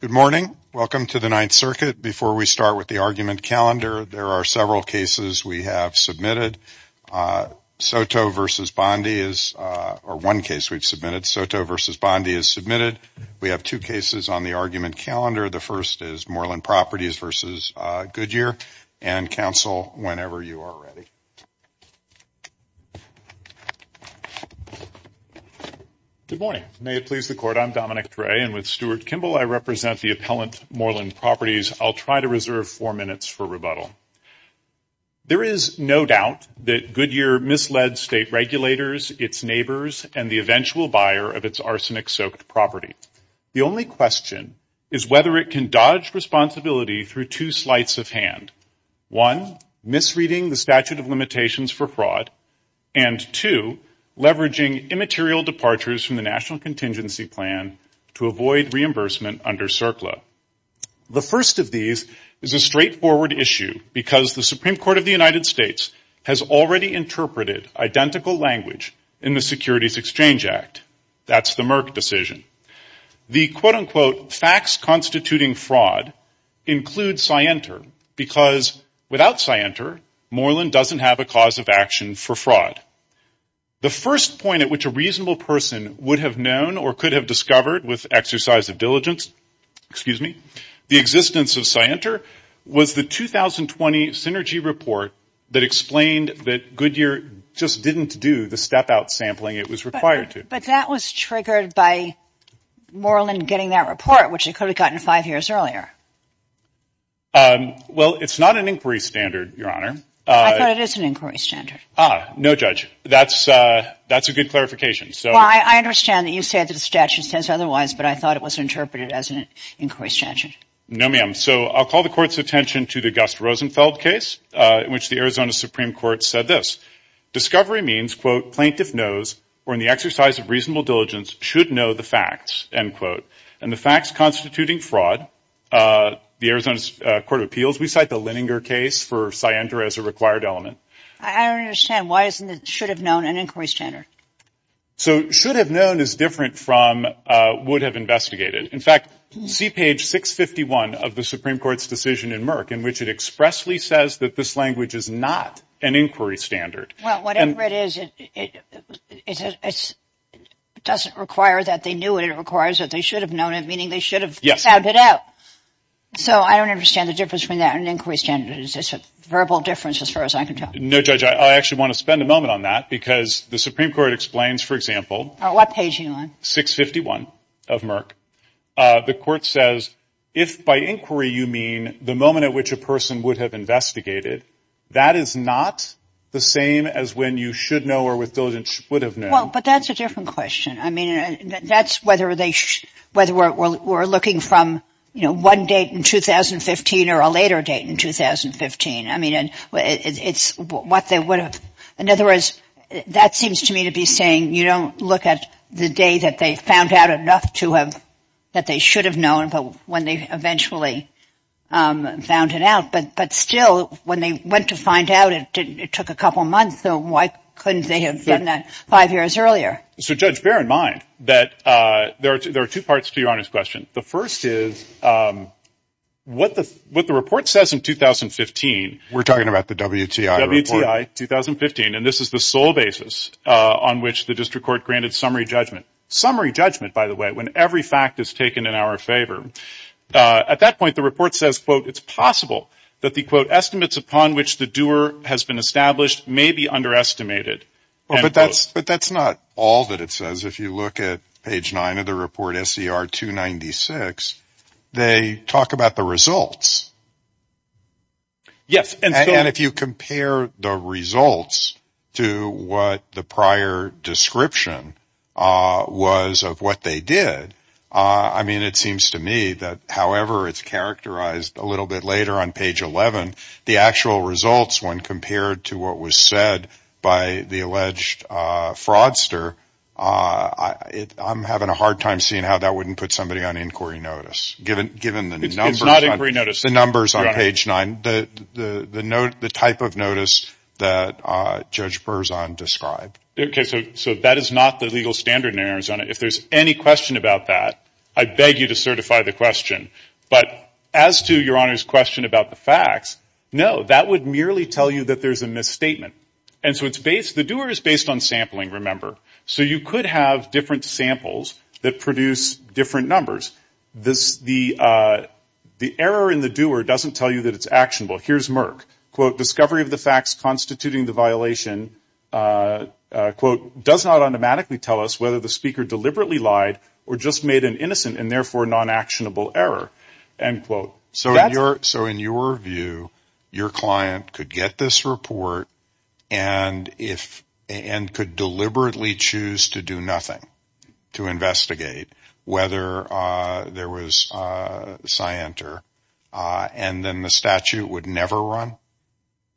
Good morning. Welcome to the Ninth Circuit. Before we start with the argument calendar, there are several cases we have submitted. Soto v. Bondi is one case we have submitted. We have two cases on the argument calendar. The first is Moreland Properties v. Goodyear and counsel, whenever you are ready. Good morning. May it please the Court that I am Dominic Dre and with Stuart Kimball, I represent the appellant, Moreland Properties. I will try to reserve four minutes for rebuttal. There is no doubt that Goodyear misled state regulators, its neighbors and the eventual buyer of its arsenic-soaked property. The only question is whether it can dodge responsibility through two sleights of hand. One, misreading the statute of limitations for fraud and two, leveraging immaterial departures from the National Contingency Plan to avoid reimbursement under CERCLA. The first of these is a straightforward issue because the Supreme Court of the United States has already interpreted identical language in the Securities Exchange Act. That's the Merck decision. The quote-unquote facts constituting fraud includes Scienter because without Scienter, Moreland doesn't have a cause of action for fraud. The first point at which a reasonable person would have known or could have discovered with exercise of diligence, excuse me, the existence of Scienter was the 2020 Synergy Report that explained that Goodyear just didn't do the step-out sampling it was required to. But that was triggered by Moreland getting that report, which it could have gotten five years earlier. Well, it's not an inquiry standard, Your Honor. I thought it is an inquiry standard. Ah, no, Judge. That's a good clarification. Well, I understand that you said that the statute says otherwise, but I thought it was interpreted as an inquiry standard. No, ma'am. So I'll call the Court's attention to the Gus Rosenfeld case in which the Arizona Supreme Court said this. Discovery means, quote, plaintiff knows or in the exercise of reasonable diligence should know the facts, end quote. And the facts constituting fraud, the Arizona Court of Appeals, we cite the Leninger case for Scienter as a required element. I don't understand. Why isn't it should have known an inquiry standard? So should have known is different from would have investigated. In fact, see page 651 of the Supreme Court's decision in Merck, in which it expressly says that this language is not an inquiry standard. Well, whatever it is, it doesn't require that they knew it. It requires that they should have known it, meaning they should have found it out. So I don't understand the difference between that and inquiry standards. It's a verbal difference as far as I can tell. No, Judge, I actually want to spend a moment on that because the Supreme Court explains, for example. What page are you on? 651 of Merck. The Court says if by inquiry you mean the moment at which a person would have investigated, that is not the same as when you should know or with diligence would have known. Well, but that's a different question. I mean, that's whether they whether we're looking from, you know, one date in 2015 or a later date in 2015. I mean, it's what they would have. In other words, that seems to me to be saying you don't look at the day that they found out enough to have that they should have known, but when they eventually found it out. But still, when they went to find out, it took a couple of months. So why couldn't they have done that five years earlier? So, Judge, bear in mind that there are two parts to your Honor's question. The first is what the what the report says in 2015. We're talking about the WTI report. WTI 2015. And this is the sole basis on which the district court granted summary judgment. Summary judgment, by the way, when every fact is taken in our favor. At that point, the report says, quote, it's possible that the quote estimates upon which the doer has been established may be underestimated. But that's but that's not all that it says. If you look at page nine of the report, SCR 296, they talk about the results. Yes, and if you compare the results to what the prior description was of what they did, I mean, it seems to me that however, it's characterized a little bit later on page 11, the actual results when compared to what was said by the alleged fraudster, I'm having a hard time seeing how that wouldn't put somebody on inquiry notice, given given the numbers, not every notice, the numbers on page nine, the the note, the type of notice that Judge Burzon described. OK, so so that is not the legal standard in Arizona. If there's any question about that, I beg you to certify the question. But as to your honor's question about the facts, no, that would merely tell you that there's a misstatement. And so it's based the doer is based on sampling. Remember, so you could have different samples that produce different numbers. This the the error in the doer doesn't tell you that it's actionable. Here's Merck, quote, discovery of the facts constituting the violation, quote, does not automatically tell us whether the speaker deliberately lied or just made an innocent and therefore non-actionable error, end quote. So you're so in your view, your client could get this report and if and could deliberately choose to do nothing to investigate whether there was a scienter and then the statute would never run.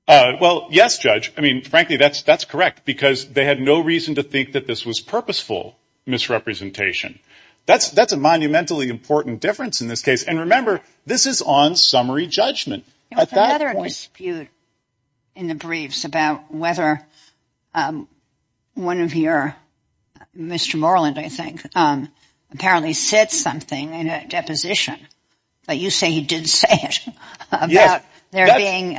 Well, yes, judge. I mean, frankly, that's that's correct, because they had no reason to think that this was purposeful misrepresentation. That's that's a monumentally important difference in this case. And remember, this is on summary judgment. I thought there was a dispute in the briefs about whether one of your Mr. Moreland, I think, apparently said something in a deposition. But you say he did say about there being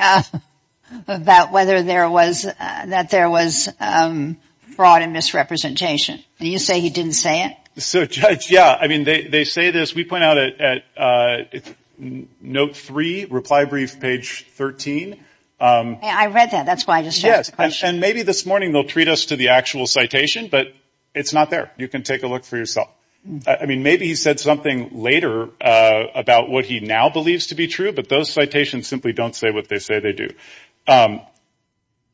about whether there was that there was fraud and misrepresentation. Do you say he didn't say it? So, yeah, I mean, they say this. We point out at note three reply brief, page 13. I read that. That's why I just asked the question. And maybe this morning they'll treat us to the actual citation, but it's not there. You can take a look for yourself. I mean, maybe he said something later about what he now believes to be true. But those citations simply don't say what they say they do.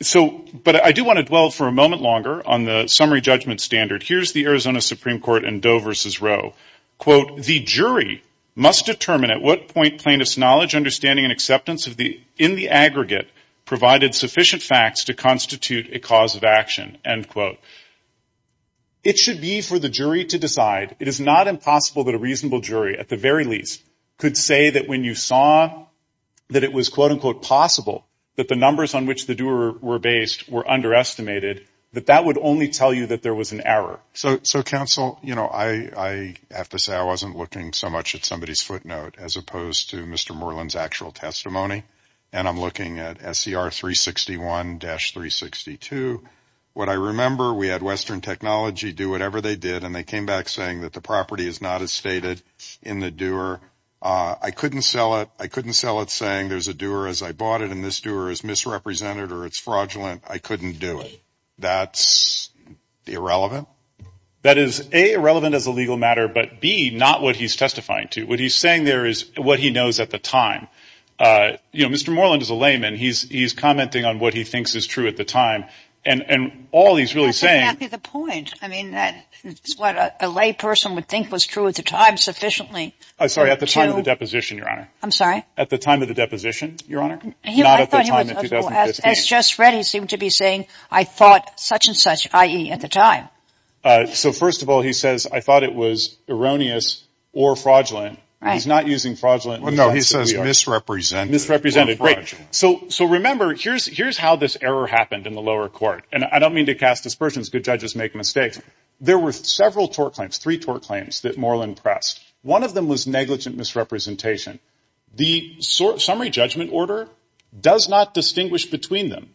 So but I do want to dwell for a moment longer on the summary judgment standard. Here's the Arizona Supreme Court in Doe versus Rowe. Quote, the jury must determine at what point plaintiff's knowledge, understanding and acceptance of the in the aggregate provided sufficient facts to constitute a cause of action. End quote. It should be for the jury to decide. It is not impossible that a reasonable jury, at the very least, could say that when you saw that it was, quote unquote, possible that the numbers on which the doer were based were underestimated, that that would only tell you that there was an error. So. So, counsel, you know, I have to say I wasn't looking so much at somebody's footnote as opposed to Mr. Moreland's actual testimony. And I'm looking at SCR 361 dash 362. What I remember, we had Western Technology do whatever they did. And they came back saying that the property is not as stated in the doer. I couldn't sell it. I couldn't sell it saying there's a doer as I bought it. And this doer is misrepresented or it's fraudulent. I couldn't do it. That's irrelevant. That is a relevant as a legal matter, but be not what he's testifying to. What he's saying there is what he knows at the time. You know, Mr. Moreland is a layman. He's he's commenting on what he thinks is true at the time. And all he's really saying is a point. I mean, that is what a lay person would think was true at the time. Sufficiently. I'm sorry. At the time of the deposition. Your honor. I'm sorry. At the time of the deposition. Your honor. Not at the time. As just read, he seemed to be saying, I thought such and such, i.e. at the time. So first of all, he says, I thought it was erroneous or fraudulent. He's not using fraudulent. Well, no, he says misrepresent misrepresented. So so remember, here's here's how this error happened in the lower court. And I don't mean to cast aspersions. Good judges make mistakes. There were several tort claims, three tort claims that Moreland pressed. One of them was negligent misrepresentation. The summary judgment order does not distinguish between them.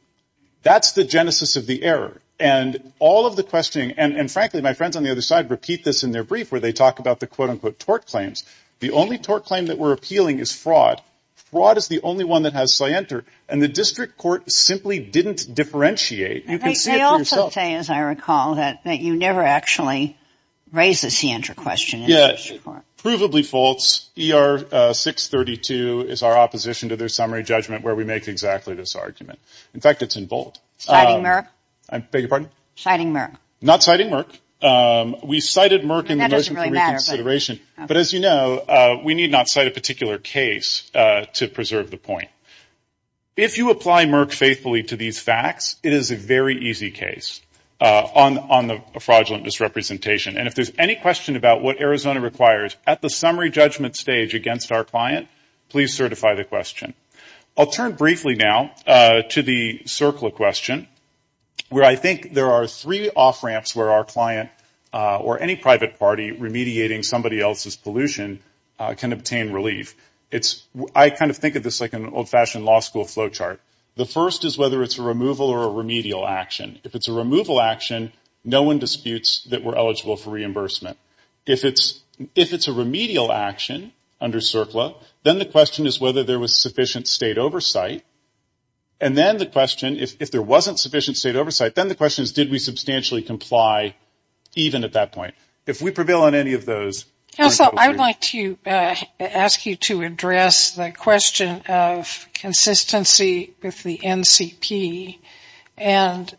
That's the genesis of the error and all of the questioning. And frankly, my friends on the other side repeat this in their brief where they talk about the, quote, unquote, tort claims. The only tort claim that we're appealing is fraud. Fraud is the only one that has scienter. And the district court simply didn't differentiate. And they also say, as I recall, that that you never actually raise the scienter question. Yeah, provably false. ER 632 is our opposition to their summary judgment where we make exactly this argument. In fact, it's in bold. So I beg your pardon. Citing Merck, not citing Merck. We cited Merck in the motion for reconsideration. But as you know, we need not cite a particular case to preserve the point. If you apply Merck faithfully to these facts, it is a very easy case on on the fraudulent misrepresentation. And if there's any question about what Arizona requires at the summary judgment stage against our client, please certify the question. I'll turn briefly now to the circle of question where I think there are three off ramps where our client or any private party remediating somebody else's pollution can obtain relief. It's I kind of think of this like an old fashioned law school flow chart. The first is whether it's a removal or a remedial action. If it's a removal action, no one disputes that we're eligible for reimbursement. If it's if it's a remedial action under CERCLA, then the question is whether there was sufficient state oversight. And then the question, if there wasn't sufficient state oversight, then the question is, did we substantially comply even at that point? If we prevail on any of those. So I would like to ask you to address the question of consistency with the NCP. And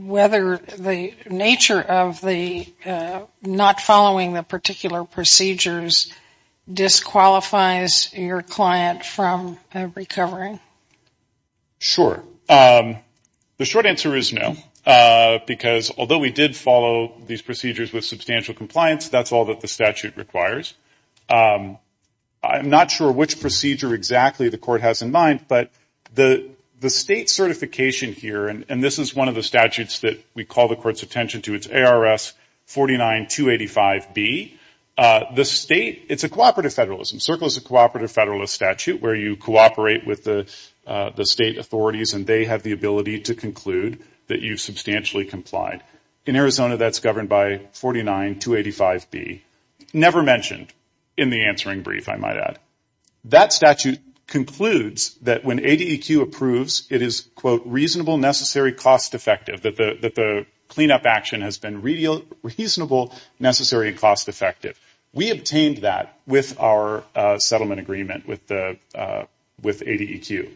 whether the nature of the not following the particular procedures disqualifies your client from recovering. Sure, the short answer is no, because although we did follow these procedures with substantial compliance, that's all that the statute requires. I'm not sure which procedure exactly the court has in mind, but the the state certification here and this is one of the statutes that we call the court's attention to its ARS 49-285B, the state, it's a cooperative federalism, CERCLA is a cooperative federalist statute where you cooperate with the state authorities and they have the ability to conclude that you've substantially complied. In Arizona, that's governed by 49-285B. Never mentioned in the answering brief, I might add. That statute concludes that when ADEQ approves, it is, quote, reasonable, necessary, cost effective, that the cleanup action has been reasonable, necessary, and cost effective. We obtained that with our settlement agreement with ADEQ.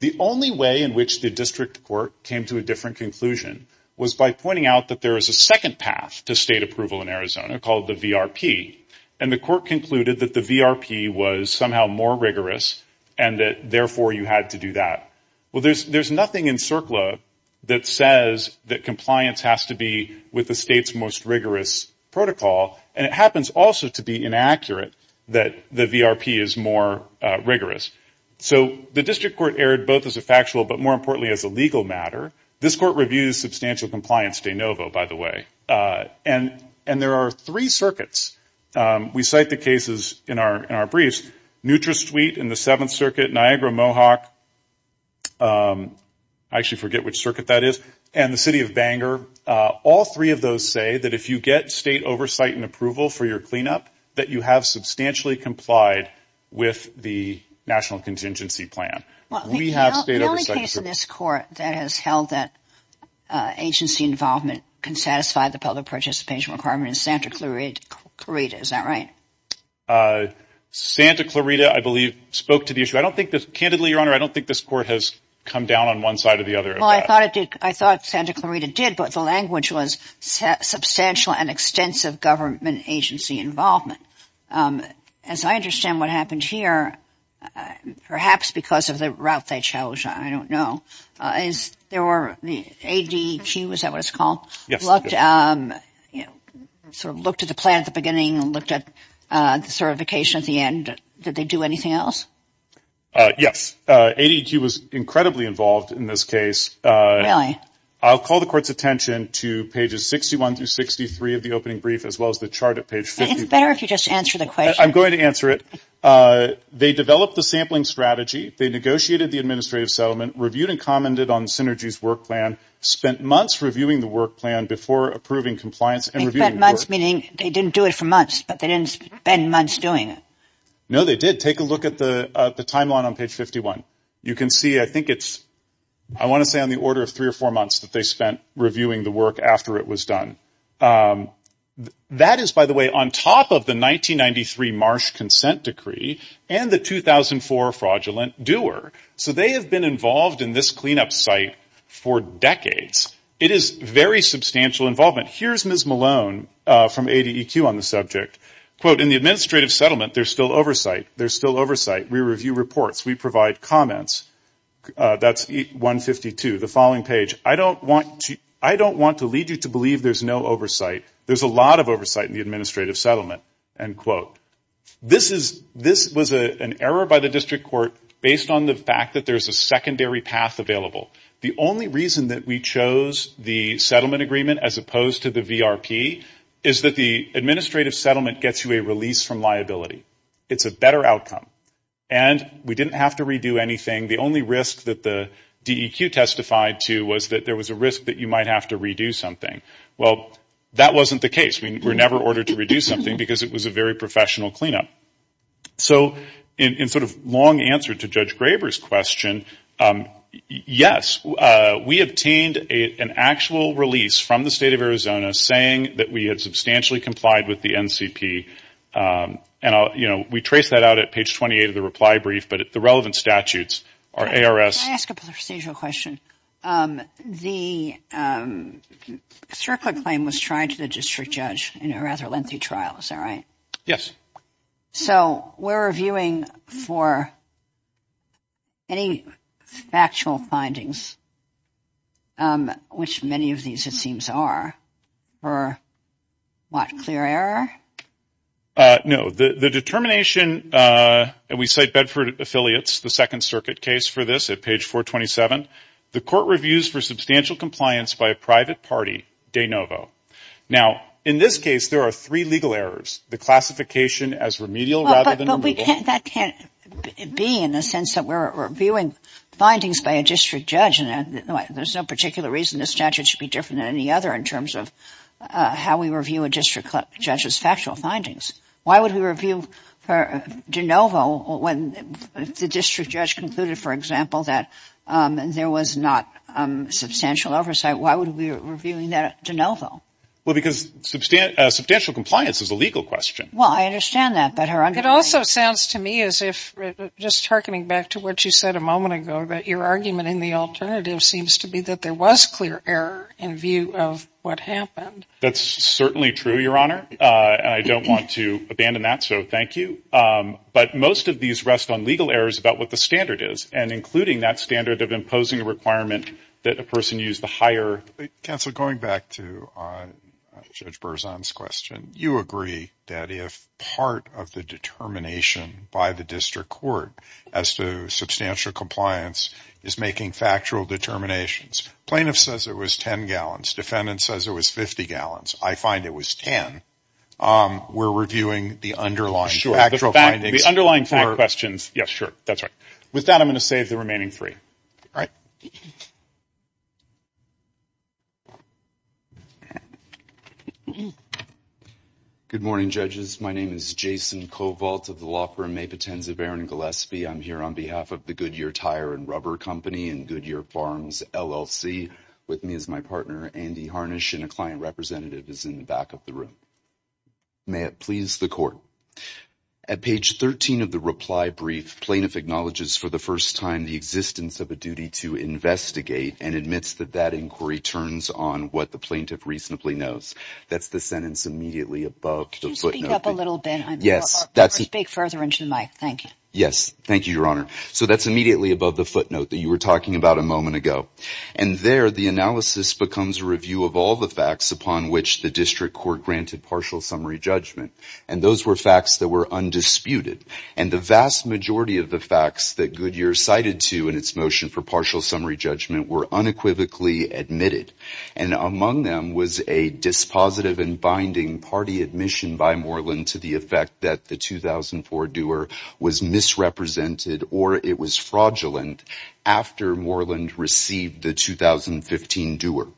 The only way in which the district court came to a different conclusion was by finding out that there is a second path to state approval in Arizona called the VRP. And the court concluded that the VRP was somehow more rigorous and that therefore you had to do that. Well, there's nothing in CERCLA that says that compliance has to be with the state's most rigorous protocol. And it happens also to be inaccurate that the VRP is more rigorous. So the district court erred both as a factual but more importantly as a legal matter. This court reviews substantial compliance de novo, by the way. And there are three circuits. We cite the cases in our briefs. NutraSuite in the Seventh Circuit, Niagara-Mohawk, I actually forget which circuit that is, and the City of Bangor. All three of those say that if you get state oversight and approval for your cleanup, that you have substantially complied with the National Contingency Plan. Well, the only case in this court that has held that agency involvement can satisfy the public participation requirement is Santa Clarita, is that right? Santa Clarita, I believe, spoke to the issue. I don't think this, candidly, Your Honor, I don't think this court has come down on one side or the other. Well, I thought it did. I thought Santa Clarita did, but the language was substantial and extensive government agency involvement. As I understand what happened here, perhaps because of the route they chose, I don't know, is there were the ADEQ, is that what it's called, looked at the plan at the beginning and looked at the certification at the end. Did they do anything else? Yes. ADEQ was incredibly involved in this case. I'll call the court's attention to pages 61 through 63 of the opening brief, as well as the chart at page 50. It's better if you just answer the question. I'm going to answer it. They developed the sampling strategy. They negotiated the administrative settlement, reviewed and commented on Synergy's work plan, spent months reviewing the work plan before approving compliance and reviewing the Meaning they didn't do it for months, but they didn't spend months doing it. No, they did. Take a look at the timeline on page 51. You can see, I think it's, I want to say, on the order of three or four months that they spent reviewing the work after it was done. That is, by the way, on top of the 1993 Marsh consent decree and the 2004 fraudulent Dewar. So they have been involved in this cleanup site for decades. It is very substantial involvement. Here's Ms. Malone from ADEQ on the subject. Quote, in the administrative settlement, there's still oversight. There's still oversight. We review reports. We provide comments. That's 152, the following page. I don't want to, I don't want to lead you to believe there's no oversight. There's a lot of oversight in the administrative settlement. End quote. This is, this was an error by the district court based on the fact that there's a secondary path available. The only reason that we chose the settlement agreement as opposed to the VRP is that the administrative settlement gets you a release from liability. It's a better outcome. And we didn't have to redo anything. The only risk that the DEQ testified to was that there was a risk that you might have to redo something. Well, that wasn't the case. We were never ordered to redo something because it was a very professional cleanup. So in sort of long answer to Judge Graber's question, yes, we obtained an actual release from the state of Arizona saying that we had substantially complied with the NCP. And, you know, we trace that out at page 28 of the reply brief. But the relevant statutes are ARS. Can I ask a procedural question? The CERCLA claim was tried to the district judge in a rather lengthy trial. Is that right? Yes. So we're reviewing for any factual findings, which many of these it seems are. For what, clear error? No, the determination that we cite Bedford Affiliates, the Second Circuit case for this at page 427, the court reviews for substantial compliance by a private party, De Novo. Now, in this case, there are three legal errors. The classification as remedial rather than that can't be in the sense that we're reviewing findings by a district judge. And there's no particular reason the statute should be different than any other in how we review a district judge's factual findings. Why would we review De Novo when the district judge concluded, for example, that there was not substantial oversight? Why would we be reviewing that De Novo? Well, because substantial compliance is a legal question. Well, I understand that. It also sounds to me as if just harkening back to what you said a moment ago, that your argument in the alternative seems to be that there was clear error in view of what happened. That's certainly true, Your Honor. I don't want to abandon that. So thank you. But most of these rest on legal errors about what the standard is and including that standard of imposing a requirement that a person use the higher. Counselor, going back to Judge Berzon's question, you agree that if part of the determination by the district court as to substantial compliance is making factual determinations. Plaintiff says it was 10 gallons. Defendant says it was 50 gallons. I find it was 10. We're reviewing the underlying factual findings. The underlying questions. Yes, sure. That's right. With that, I'm going to save the remaining three. All right. Good morning, judges. My name is Jason Kovalt of the law firm Mapitenz of Aaron Gillespie. I'm here on behalf of the Goodyear Tire and Rubber Company and Goodyear Farms LLC with me as my partner, Andy Harnish, and a client representative is in the back of the room. May it please the court. At page 13 of the reply brief, plaintiff acknowledges for the first time the existence of a duty to investigate and admits that that inquiry turns on what the plaintiff reasonably knows. That's the sentence immediately above the footnote. Could you speak up a little bit? Yes. I'm going to speak further into the mic. Thank you. Yes. Thank you, Your Honor. So that's immediately above the footnote that you were talking about a moment ago. And there, the analysis becomes a review of all the facts upon which the district court granted partial summary judgment. And those were facts that were undisputed. And the vast majority of the facts that Goodyear cited to in its motion for partial summary judgment were unequivocally admitted. And among them was a dispositive and binding party admission by Moreland to the fact that the 2004 Dewar was misrepresented or it was fraudulent after Moreland received the 2015 Dewar.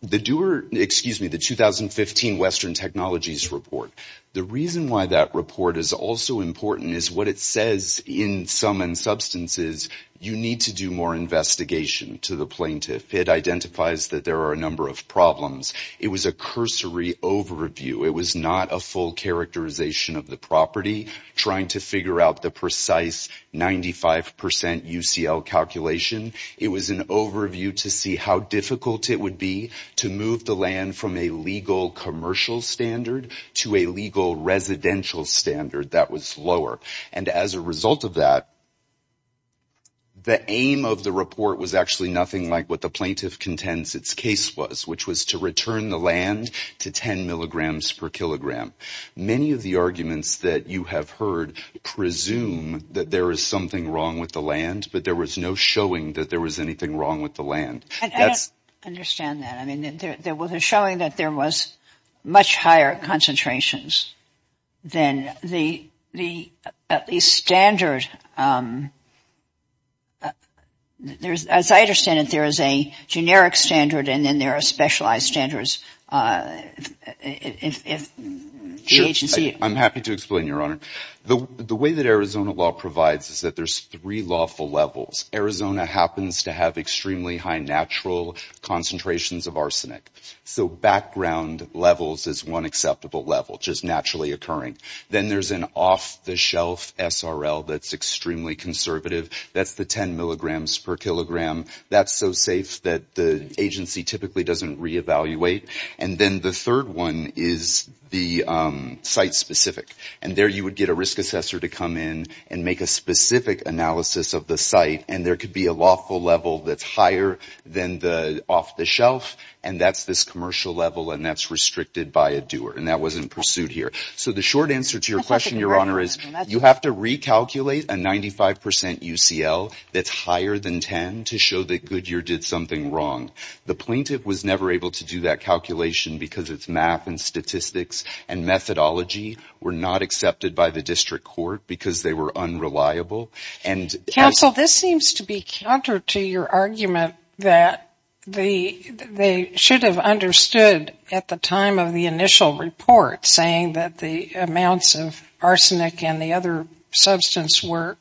The Dewar, excuse me, the 2015 Western Technologies Report. The reason why that report is also important is what it says in sum and substance is you need to do more investigation to the plaintiff. It identifies that there are a number of problems. It was a cursory overview. It was not a full characterization of the property trying to figure out the precise 95 percent UCL calculation. It was an overview to see how difficult it would be to move the land from a legal commercial standard to a legal residential standard that was lower. And as a result of that. The aim of the report was actually nothing like what the plaintiff contends its case was, which was to return the land to 10 milligrams per kilogram. Many of the arguments that you have heard presume that there is something wrong with the land, but there was no showing that there was anything wrong with the land. I don't understand that. I mean, there was a showing that there was much higher concentrations than the the at least standard. There's as I understand it, there is a generic standard and then there are specialized standards if the agency. I'm happy to explain, Your Honor, the way that Arizona law provides is that there's three lawful levels. Arizona happens to have extremely high natural concentrations of arsenic. So background levels is one acceptable level just naturally occurring. Then there's an off the shelf SRL that's extremely conservative. That's the 10 milligrams per kilogram. That's so safe that the agency typically doesn't reevaluate. And then the third one is the site specific. And there you would get a risk assessor to come in and make a specific analysis of the site. And there could be a lawful level that's higher than the off the shelf. And that's this commercial level. And that's restricted by a doer. And that wasn't pursued here. So the short answer to your question, Your Honor, is you have to recalculate a 95 percent UCL that's higher than 10 to show that Goodyear did something wrong. The plaintiff was never able to do that calculation because it's math and statistics and methodology were not accepted by the district court because they were unreliable. And counsel, this seems to be counter to your argument that they should have understood at the time of the initial report saying that the amounts of arsenic and the other substance were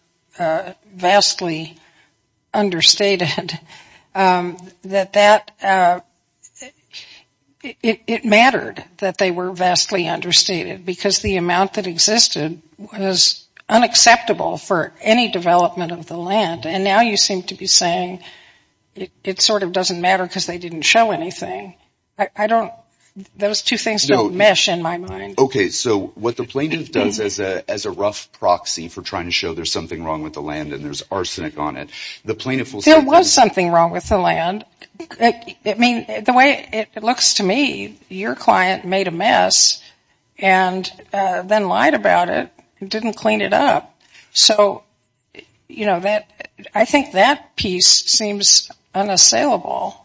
vastly understated, that it mattered that they were vastly understated because the amount that existed was unacceptable for any development of the land. And now you seem to be saying it sort of doesn't matter because they didn't show anything. I don't those two things don't mesh in my mind. OK, so what the plaintiff does as a as a rough proxy for trying to show there's something wrong with the land and there's arsenic on it. The plaintiff will say there was something wrong with the land. I mean, the way it looks to me, your client made a mess and then lied about it. Didn't clean it up. So, you know, that I think that piece seems unassailable.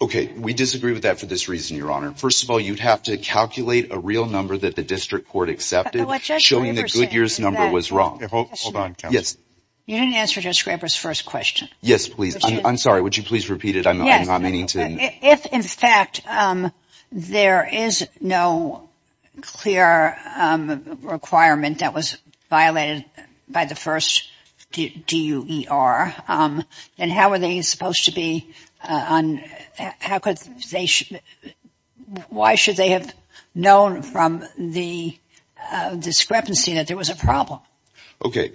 OK, we disagree with that for this reason, Your Honor. First of all, you'd have to calculate a real number that the district court accepted showing that Goodyear's number was wrong. Hold on. Yes. You didn't answer Judge Graber's first question. Yes, please. I'm sorry. Would you please repeat it? I'm not meaning to. If, in fact, there is no clear requirement that was violated by the first DUER, then how are they supposed to be on? How could they? Why should they have known from the discrepancy that there was a problem? OK,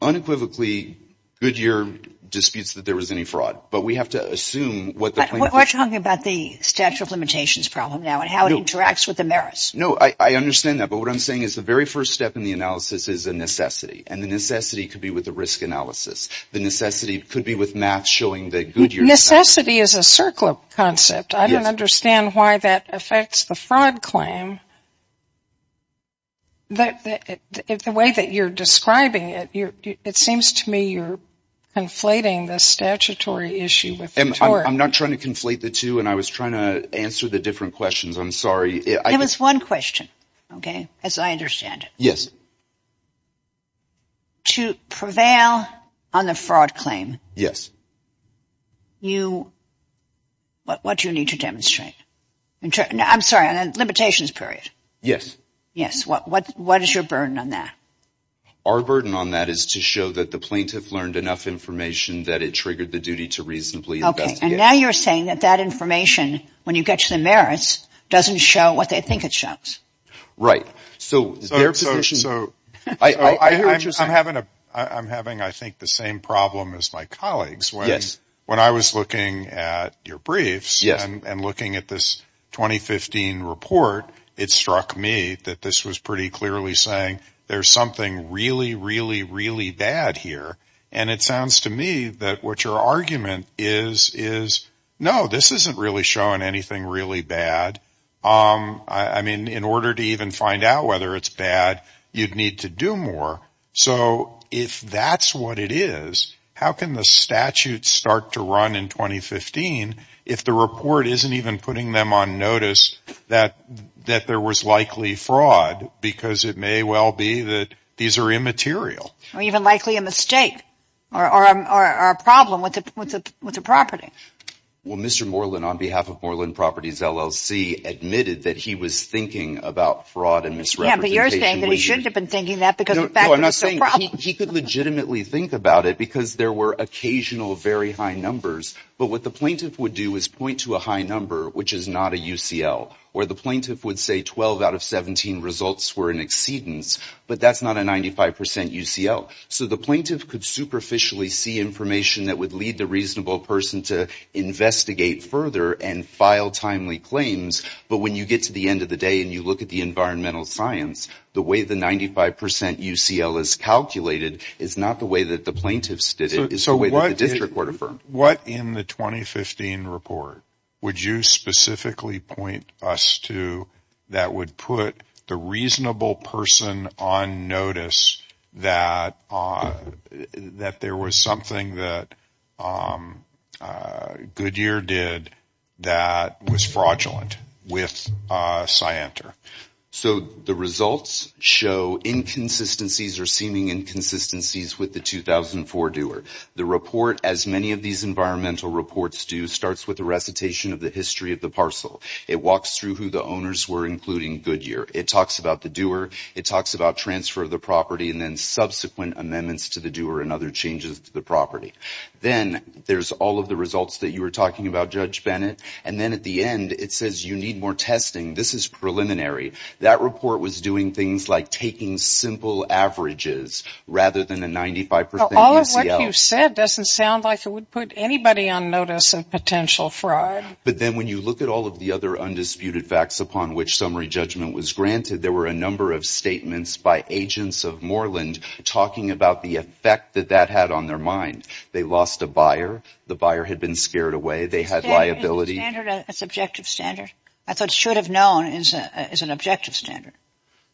unequivocally, Goodyear disputes that there was any fraud, but we have to assume what we're talking about, the statute of limitations problem now and how it interacts with the merits. No, I understand that. But what I'm saying is the very first step in the analysis is a necessity and the necessity could be with the risk analysis. The necessity could be with math showing that Goodyear's... Necessity is a circular concept. I don't understand why that affects the fraud claim. The way that you're describing it, it seems to me you're conflating the statutory issue with the court. I'm not trying to conflate the two. And I was trying to answer the different questions. I'm sorry. It was one question. OK, as I understand it. Yes. To prevail on the fraud claim. Yes. You. What do you need to demonstrate? And I'm sorry, on a limitations period. Yes. Yes. What what what is your burden on that? Our burden on that is to show that the plaintiff learned enough information that it triggered the duty to reasonably investigate. And now you're saying that that information, when you get to the merits, doesn't show what they think it shows. Right. So their position. So I'm having a I'm having, I think, the same problem as my colleagues. Yes. When I was looking at your briefs and looking at this 2015 report, it struck me that this was pretty clearly saying there's something really, really, really bad here. And it sounds to me that what your argument is, is, no, this isn't really showing anything really bad. I mean, in order to even find out whether it's bad, you'd need to do more. So if that's what it is, how can the statute start to run in 2015 if the report isn't even putting them on notice that that there was likely fraud? Because it may well be that these are immaterial. Or even likely a mistake or a problem with the property. Well, Mr. Moreland, on behalf of Moreland Properties LLC, admitted that he was thinking about fraud and misrepresentation. You're saying that he shouldn't have been thinking that because I'm not saying he could legitimately think about it because there were occasional very high numbers. But what the plaintiff would do is point to a high number, which is not a UCL where the plaintiff would say 12 out of 17 results were in exceedance. But that's not a 95 percent UCL. So the plaintiff could superficially see information that would lead the reasonable person to investigate further and file timely claims. But when you get to the end of the day and you look at the environmental science, the way the 95 percent UCL is calculated is not the way that the plaintiffs did it, it's the way that the district court affirmed. What in the 2015 report would you specifically point us to that would put the reasonable person on notice that there was something that Goodyear did that was fraudulent with Scienter? So the results show inconsistencies or seeming inconsistencies with the 2004 doer. The report, as many of these environmental reports do, starts with a recitation of the history of the parcel. It walks through who the owners were, including Goodyear. It talks about the doer. It talks about transfer of the property and then subsequent amendments to the doer and other changes to the property. Then there's all of the results that you were talking about, Judge Bennett. And then at the end, it says you need more testing. This is preliminary. That report was doing things like taking simple averages rather than a 95 percent UCL. All of what you said doesn't sound like it would put anybody on notice of potential fraud. But then when you look at all of the other undisputed facts upon which summary judgment was granted, there were a number of statements by agents of Moreland talking about the effect that that had on their mind. They lost a buyer. The buyer had been scared away. They had liability. Is the standard a subjective standard? I thought should have known is an objective standard.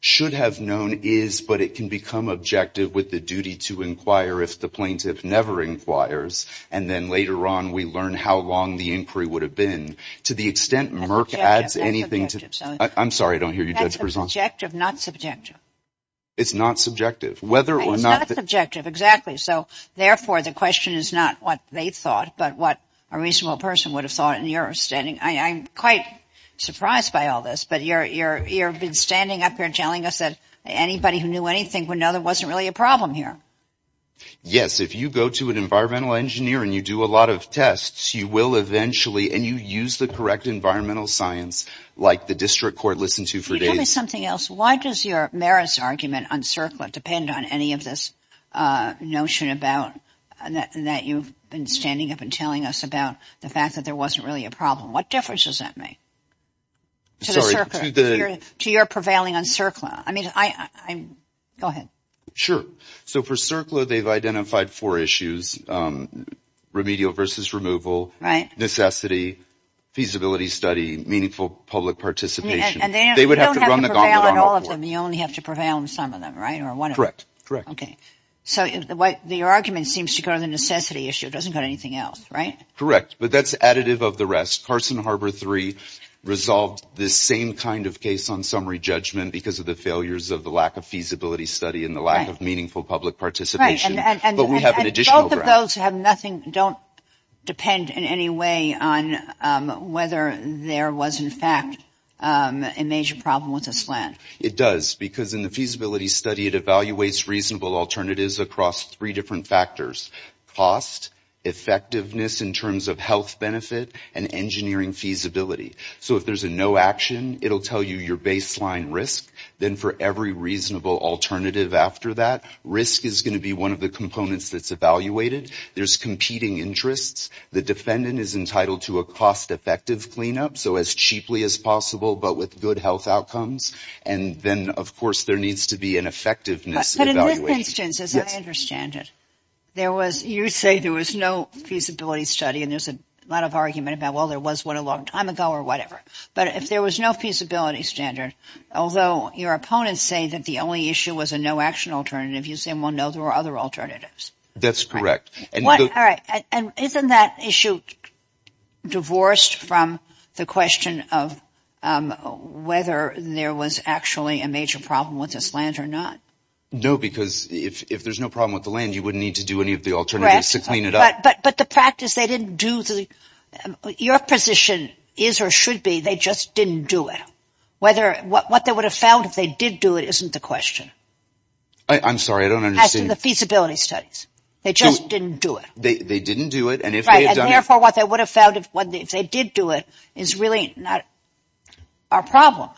Should have known is, but it can become objective with the duty to inquire if the plaintiff never inquires. And then later on, we learn how long the inquiry would have been. To the extent Merck adds anything to. I'm sorry, I don't hear you. That's subjective, not subjective. It's not subjective. Whether or not it's objective. So therefore, the question is not what they thought, but what a reasonable person would have thought in your standing. I'm quite surprised by all this. But you're you're you're been standing up here telling us that anybody who knew anything would know there wasn't really a problem here. Yes. If you go to an environmental engineer and you do a lot of tests, you will eventually and you use the correct environmental science like the district court listened to for days. Tell me something else. Why does your merits argument on CERCLA depend on any of this notion about that you've been standing up and telling us about the fact that there wasn't really a problem? What difference does that make? To the CERCLA, to your prevailing on CERCLA. I mean, I go ahead. Sure. So for CERCLA, they've identified four issues. Remedial versus removal. Right. Necessity, feasibility study, meaningful public participation. And they would have to run the gauntlet on all of them. You only have to prevail on some of them, right? Or one. Correct. Correct. Okay. So the argument seems to go to the necessity issue. It doesn't go to anything else. Right. Correct. But that's additive of the rest. Carson Harbor III resolved this same kind of case on summary judgment because of the failures of the lack of feasibility study and the lack of meaningful public participation. And both of those have nothing, don't depend in any way on whether there was, in fact, a major problem with a slant. It does. Because in the feasibility study, it evaluates reasonable alternatives across three different factors, cost, effectiveness in terms of health benefit, and engineering feasibility. So if there's a no action, it'll tell you your baseline risk. Then for every reasonable alternative after that, risk is going to be one of the components that's evaluated. There's competing interests. The defendant is entitled to a cost effective cleanup. So as cheaply as possible, but with good health outcomes. And then, of course, there needs to be an effectiveness evaluation. But in this instance, as I understand it, there was, you say there was no feasibility study and there's a lot of argument about, well, there was one a long time ago or whatever. But if there was no feasibility standard, although your opponents say that the only issue was a no action alternative, you say, well, no, there were other alternatives. That's correct. And isn't that issue divorced from the question of whether there was actually a major problem with this land or not? No, because if there's no problem with the land, you wouldn't need to do any of the alternatives to clean it up. But the practice they didn't do, your position is or should be they just didn't do it. What they would have found if they did do it isn't the question. I'm sorry, I don't understand. As to the feasibility studies. They just didn't do it. They didn't do it. And therefore, what they would have found if they did do it is really not our problem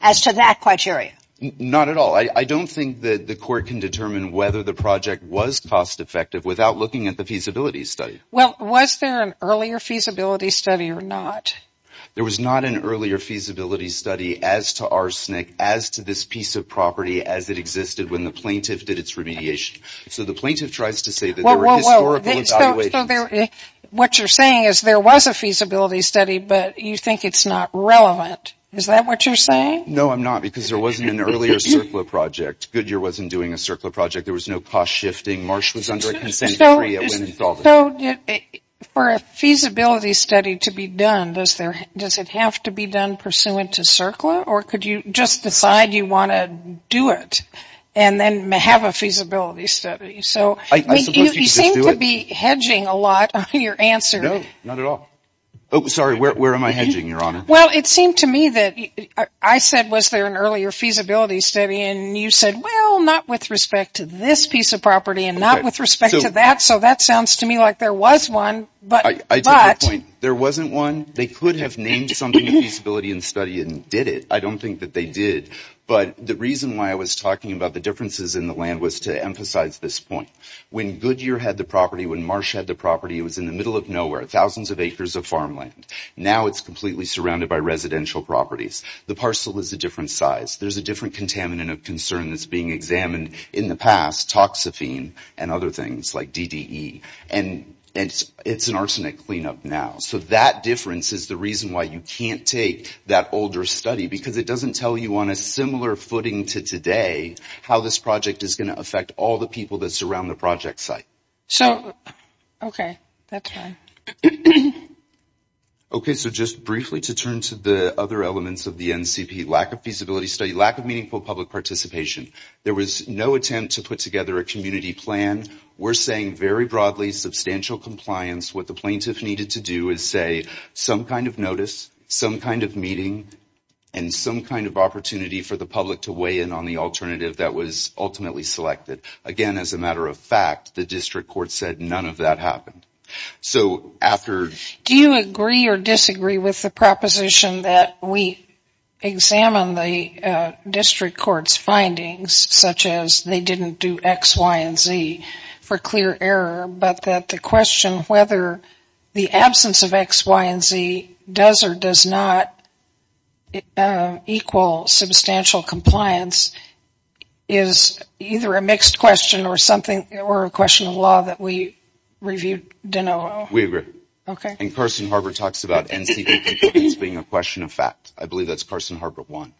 as to that criteria. Not at all. I don't think that the court can determine whether the project was cost effective without looking at the feasibility study. Well, was there an earlier feasibility study or not? There was not an earlier feasibility study as to arsenic, as to this piece of property, as it existed when the plaintiff did its remediation. So the plaintiff tries to say that. Well, what you're saying is there was a feasibility study, but you think it's not relevant. Is that what you're saying? No, I'm not. Because there wasn't an earlier circular project. Goodyear wasn't doing a circular project. There was no cost shifting. Marsh was under a consent decree at Winn-Salvis. So for a feasibility study to be done, does it have to be done pursuant to circular? Or could you just decide you want to do it and then have a feasibility study? So you seem to be hedging a lot on your answer. No, not at all. Oh, sorry. Where am I hedging, Your Honor? Well, it seemed to me that I said, was there an earlier feasibility study? And you said, well, not with respect to this piece of property and not with respect to that. So that sounds to me like there was one. I take your point. There wasn't one. They could have named something a feasibility study and did it. I don't think that they did. But the reason why I was talking about the differences in the land was to emphasize this point. When Goodyear had the property, when Marsh had the property, it was in the middle of nowhere, thousands of acres of farmland. Now it's completely surrounded by residential properties. The parcel is a different size. There's a different contaminant of concern that's being examined in the past, toxaphene and other things like DDE. And it's an arsenic cleanup now. So that difference is the reason why you can't take that older study because it doesn't tell you on a similar footing to today how this project is going to affect all the people that surround the project site. So, okay, that's fine. Okay, so just briefly to turn to the other elements of the NCP, lack of meaningful public participation. There was no attempt to put together a community plan. We're saying very broadly substantial compliance. What the plaintiff needed to do is say some kind of notice, some kind of meeting, and some kind of opportunity for the public to weigh in on the alternative that was ultimately selected. Again, as a matter of fact, the district court said none of that happened. So after... district court's findings, such as they didn't do X, Y, and Z for clear error, but that the question whether the absence of X, Y, and Z does or does not equal substantial compliance is either a mixed question or something, or a question of law that we reviewed. We agree. Okay. And Carson Harbor talks about NCP compliance being a question of fact. I believe that's Carson Harbor one.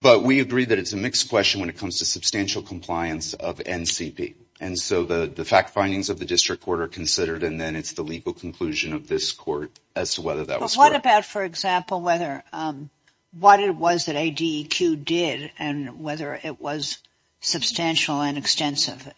But we agree that it's a mixed question when it comes to substantial compliance of NCP. And so the fact findings of the district court are considered, and then it's the legal conclusion of this court as to whether that was correct. But what about, for example, whether... what it was that ADEQ did and whether it was substantial and extensive?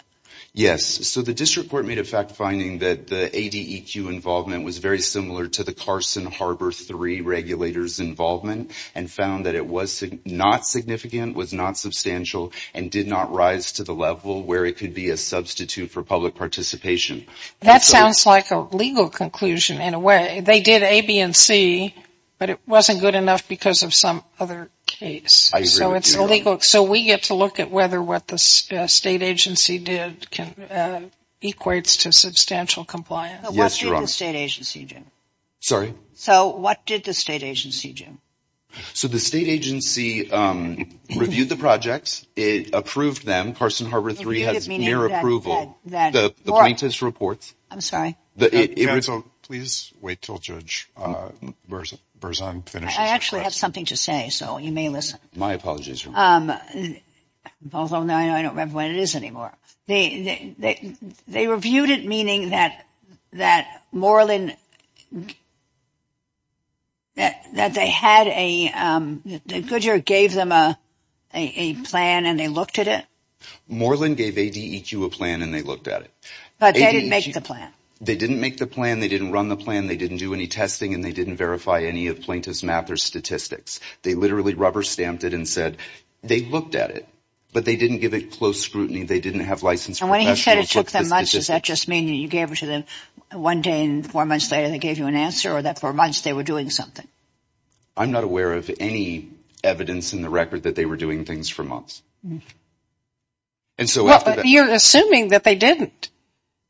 Yes. So the district court made a fact finding that the ADEQ involvement was very similar to the Carson Harbor 3 regulators' involvement, and found that it was not significant, was not substantial, and did not rise to the level where it could be a substitute for public participation. That sounds like a legal conclusion in a way. They did A, B, and C, but it wasn't good enough because of some other case. So it's illegal. So we get to look at whether what the state agency did equates to substantial compliance. What did the state agency do? So what did the state agency do? So the state agency reviewed the projects. It approved them. Carson Harbor 3 has mere approval. The plaintiff's reports. I'm sorry. Please wait till Judge Berzon finishes. I actually have something to say, so you may listen. My apologies. Although now I don't remember what it is anymore. They reviewed it, meaning that Moreland, that they had a, that Goodyear gave them a plan and they looked at it? Moreland gave ADEQ a plan and they looked at it. But they didn't make the plan. They didn't make the plan, they didn't run the plan, they didn't do any testing, and they didn't verify any of plaintiff's math or statistics. They literally rubber stamped it and said they looked at it, but they didn't give it close scrutiny. They didn't have licensed. And when he said it took them months, does that just mean you gave it to them one day and four months later they gave you an answer or that for months they were doing something? I'm not aware of any evidence in the record that they were doing things for months. And so you're assuming that they didn't.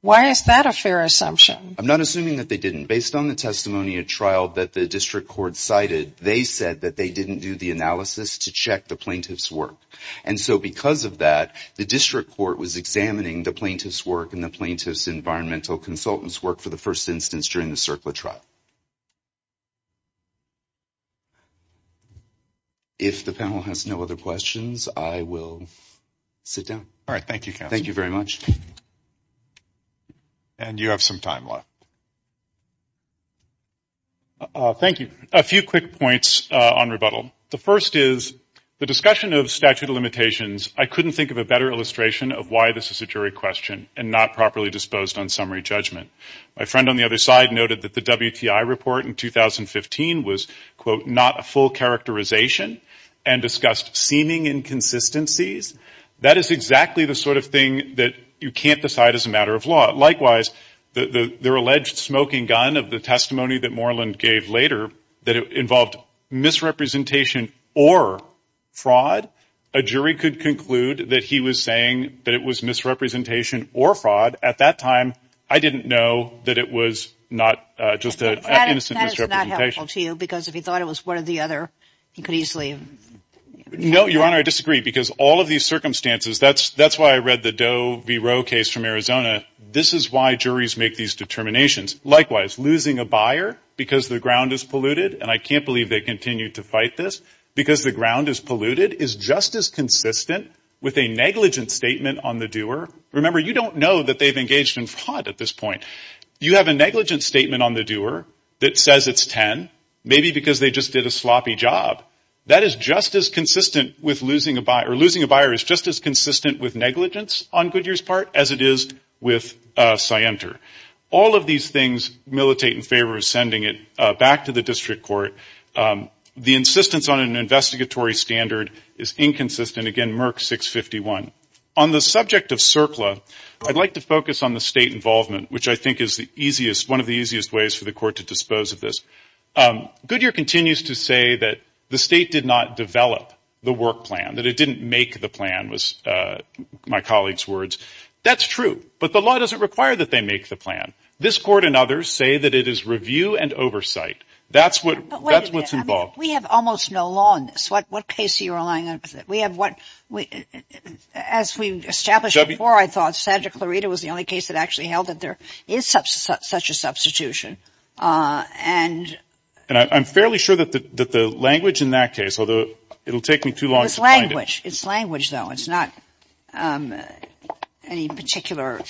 Why is that a fair assumption? I'm not assuming that they didn't. Based on the testimony at trial that the district court cited, they said that they didn't do the analysis to check the plaintiff's work. And so because of that, the district court was examining the plaintiff's work and the plaintiff's environmental consultant's work for the first instance during the CERCLA trial. If the panel has no other questions, I will sit down. All right. Thank you, counsel. Thank you very much. And you have some time left. Thank you. A few quick points on rebuttal. The first is the discussion of statute of limitations. I couldn't think of a better illustration of why this is a jury question and not properly disposed on summary judgment. My friend on the other side noted that the WTI report in 2015 was, quote, not a full characterization and discussed seeming inconsistencies. That is exactly the sort of thing that you can't decide as a matter of law. Likewise, their alleged smoking gun of the testimony that Moreland gave later that involved misrepresentation or fraud. A jury could conclude that he was saying that it was misrepresentation or fraud. At that time, I didn't know that it was not just an innocent misrepresentation. That is not helpful to you because if he thought it was one or the other, he could easily. No, Your Honor, I disagree because all of these circumstances, that's why I read the Doe v. Roe case from Arizona. This is why juries make these determinations. Likewise, losing a buyer because the ground is polluted, and I can't believe they continue to fight this, because the ground is polluted is just as consistent with a negligent statement on the doer. Remember, you don't know that they've engaged in fraud at this point. You have a negligent statement on the doer that says it's 10, maybe because they just did a sloppy job. That is just as consistent with losing a buyer. Losing a buyer is just as consistent with negligence on Goodyear's part as it is with Sienter. All of these things militate in favor of sending it back to the district court. The insistence on an investigatory standard is inconsistent. Again, Merck 651. On the subject of CERCLA, I'd like to focus on the state involvement, which I think is one of the easiest ways for the court to dispose of this. Goodyear continues to say that the state did not develop the work plan, that it didn't make the plan, was my colleague's words. That's true. But the law doesn't require that they make the plan. This court and others say that it is review and oversight. That's what's involved. We have almost no law in this. What case are you relying on? As we established before, I thought Sandra Clarita was the only case that actually held that there is such a substitution. I'm fairly sure that the language in that case, although it'll take me too long to find it. It's language, though. It's not any particular.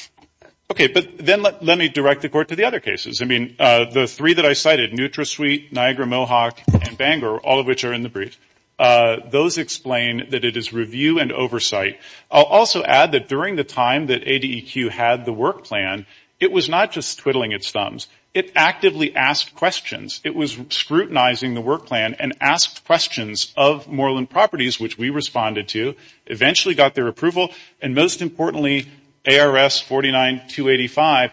Okay. But then let me direct the court to the other cases. I mean, the three that I cited, NutraSuite, Niagara Mohawk, and Bangor, all of which are in the brief, those explain that it is review and oversight. I'll also add that during the time that ADEQ had the work plan, it was not just twiddling its thumbs. It actively asked questions. It was scrutinizing the work plan and asked questions of Moreland Properties, which we responded to, eventually got their approval, and most importantly, ARS 49285,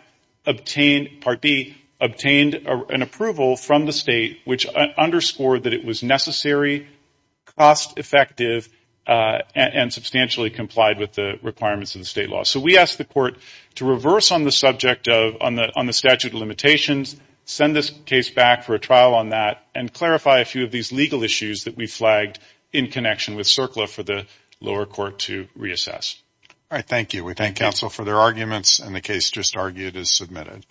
Part B, obtained an approval from the state which underscored that it was necessary, cost effective, and substantially complied with the requirements of the state law. So we asked the court to reverse on the subject of, on the statute of limitations, send this case back for a trial on that, and clarify a few of these legal issues that we flagged in connection with CERCLA for the lower court to reassess. All right. Thank you. We thank counsel for their arguments, and the case just argued is submitted.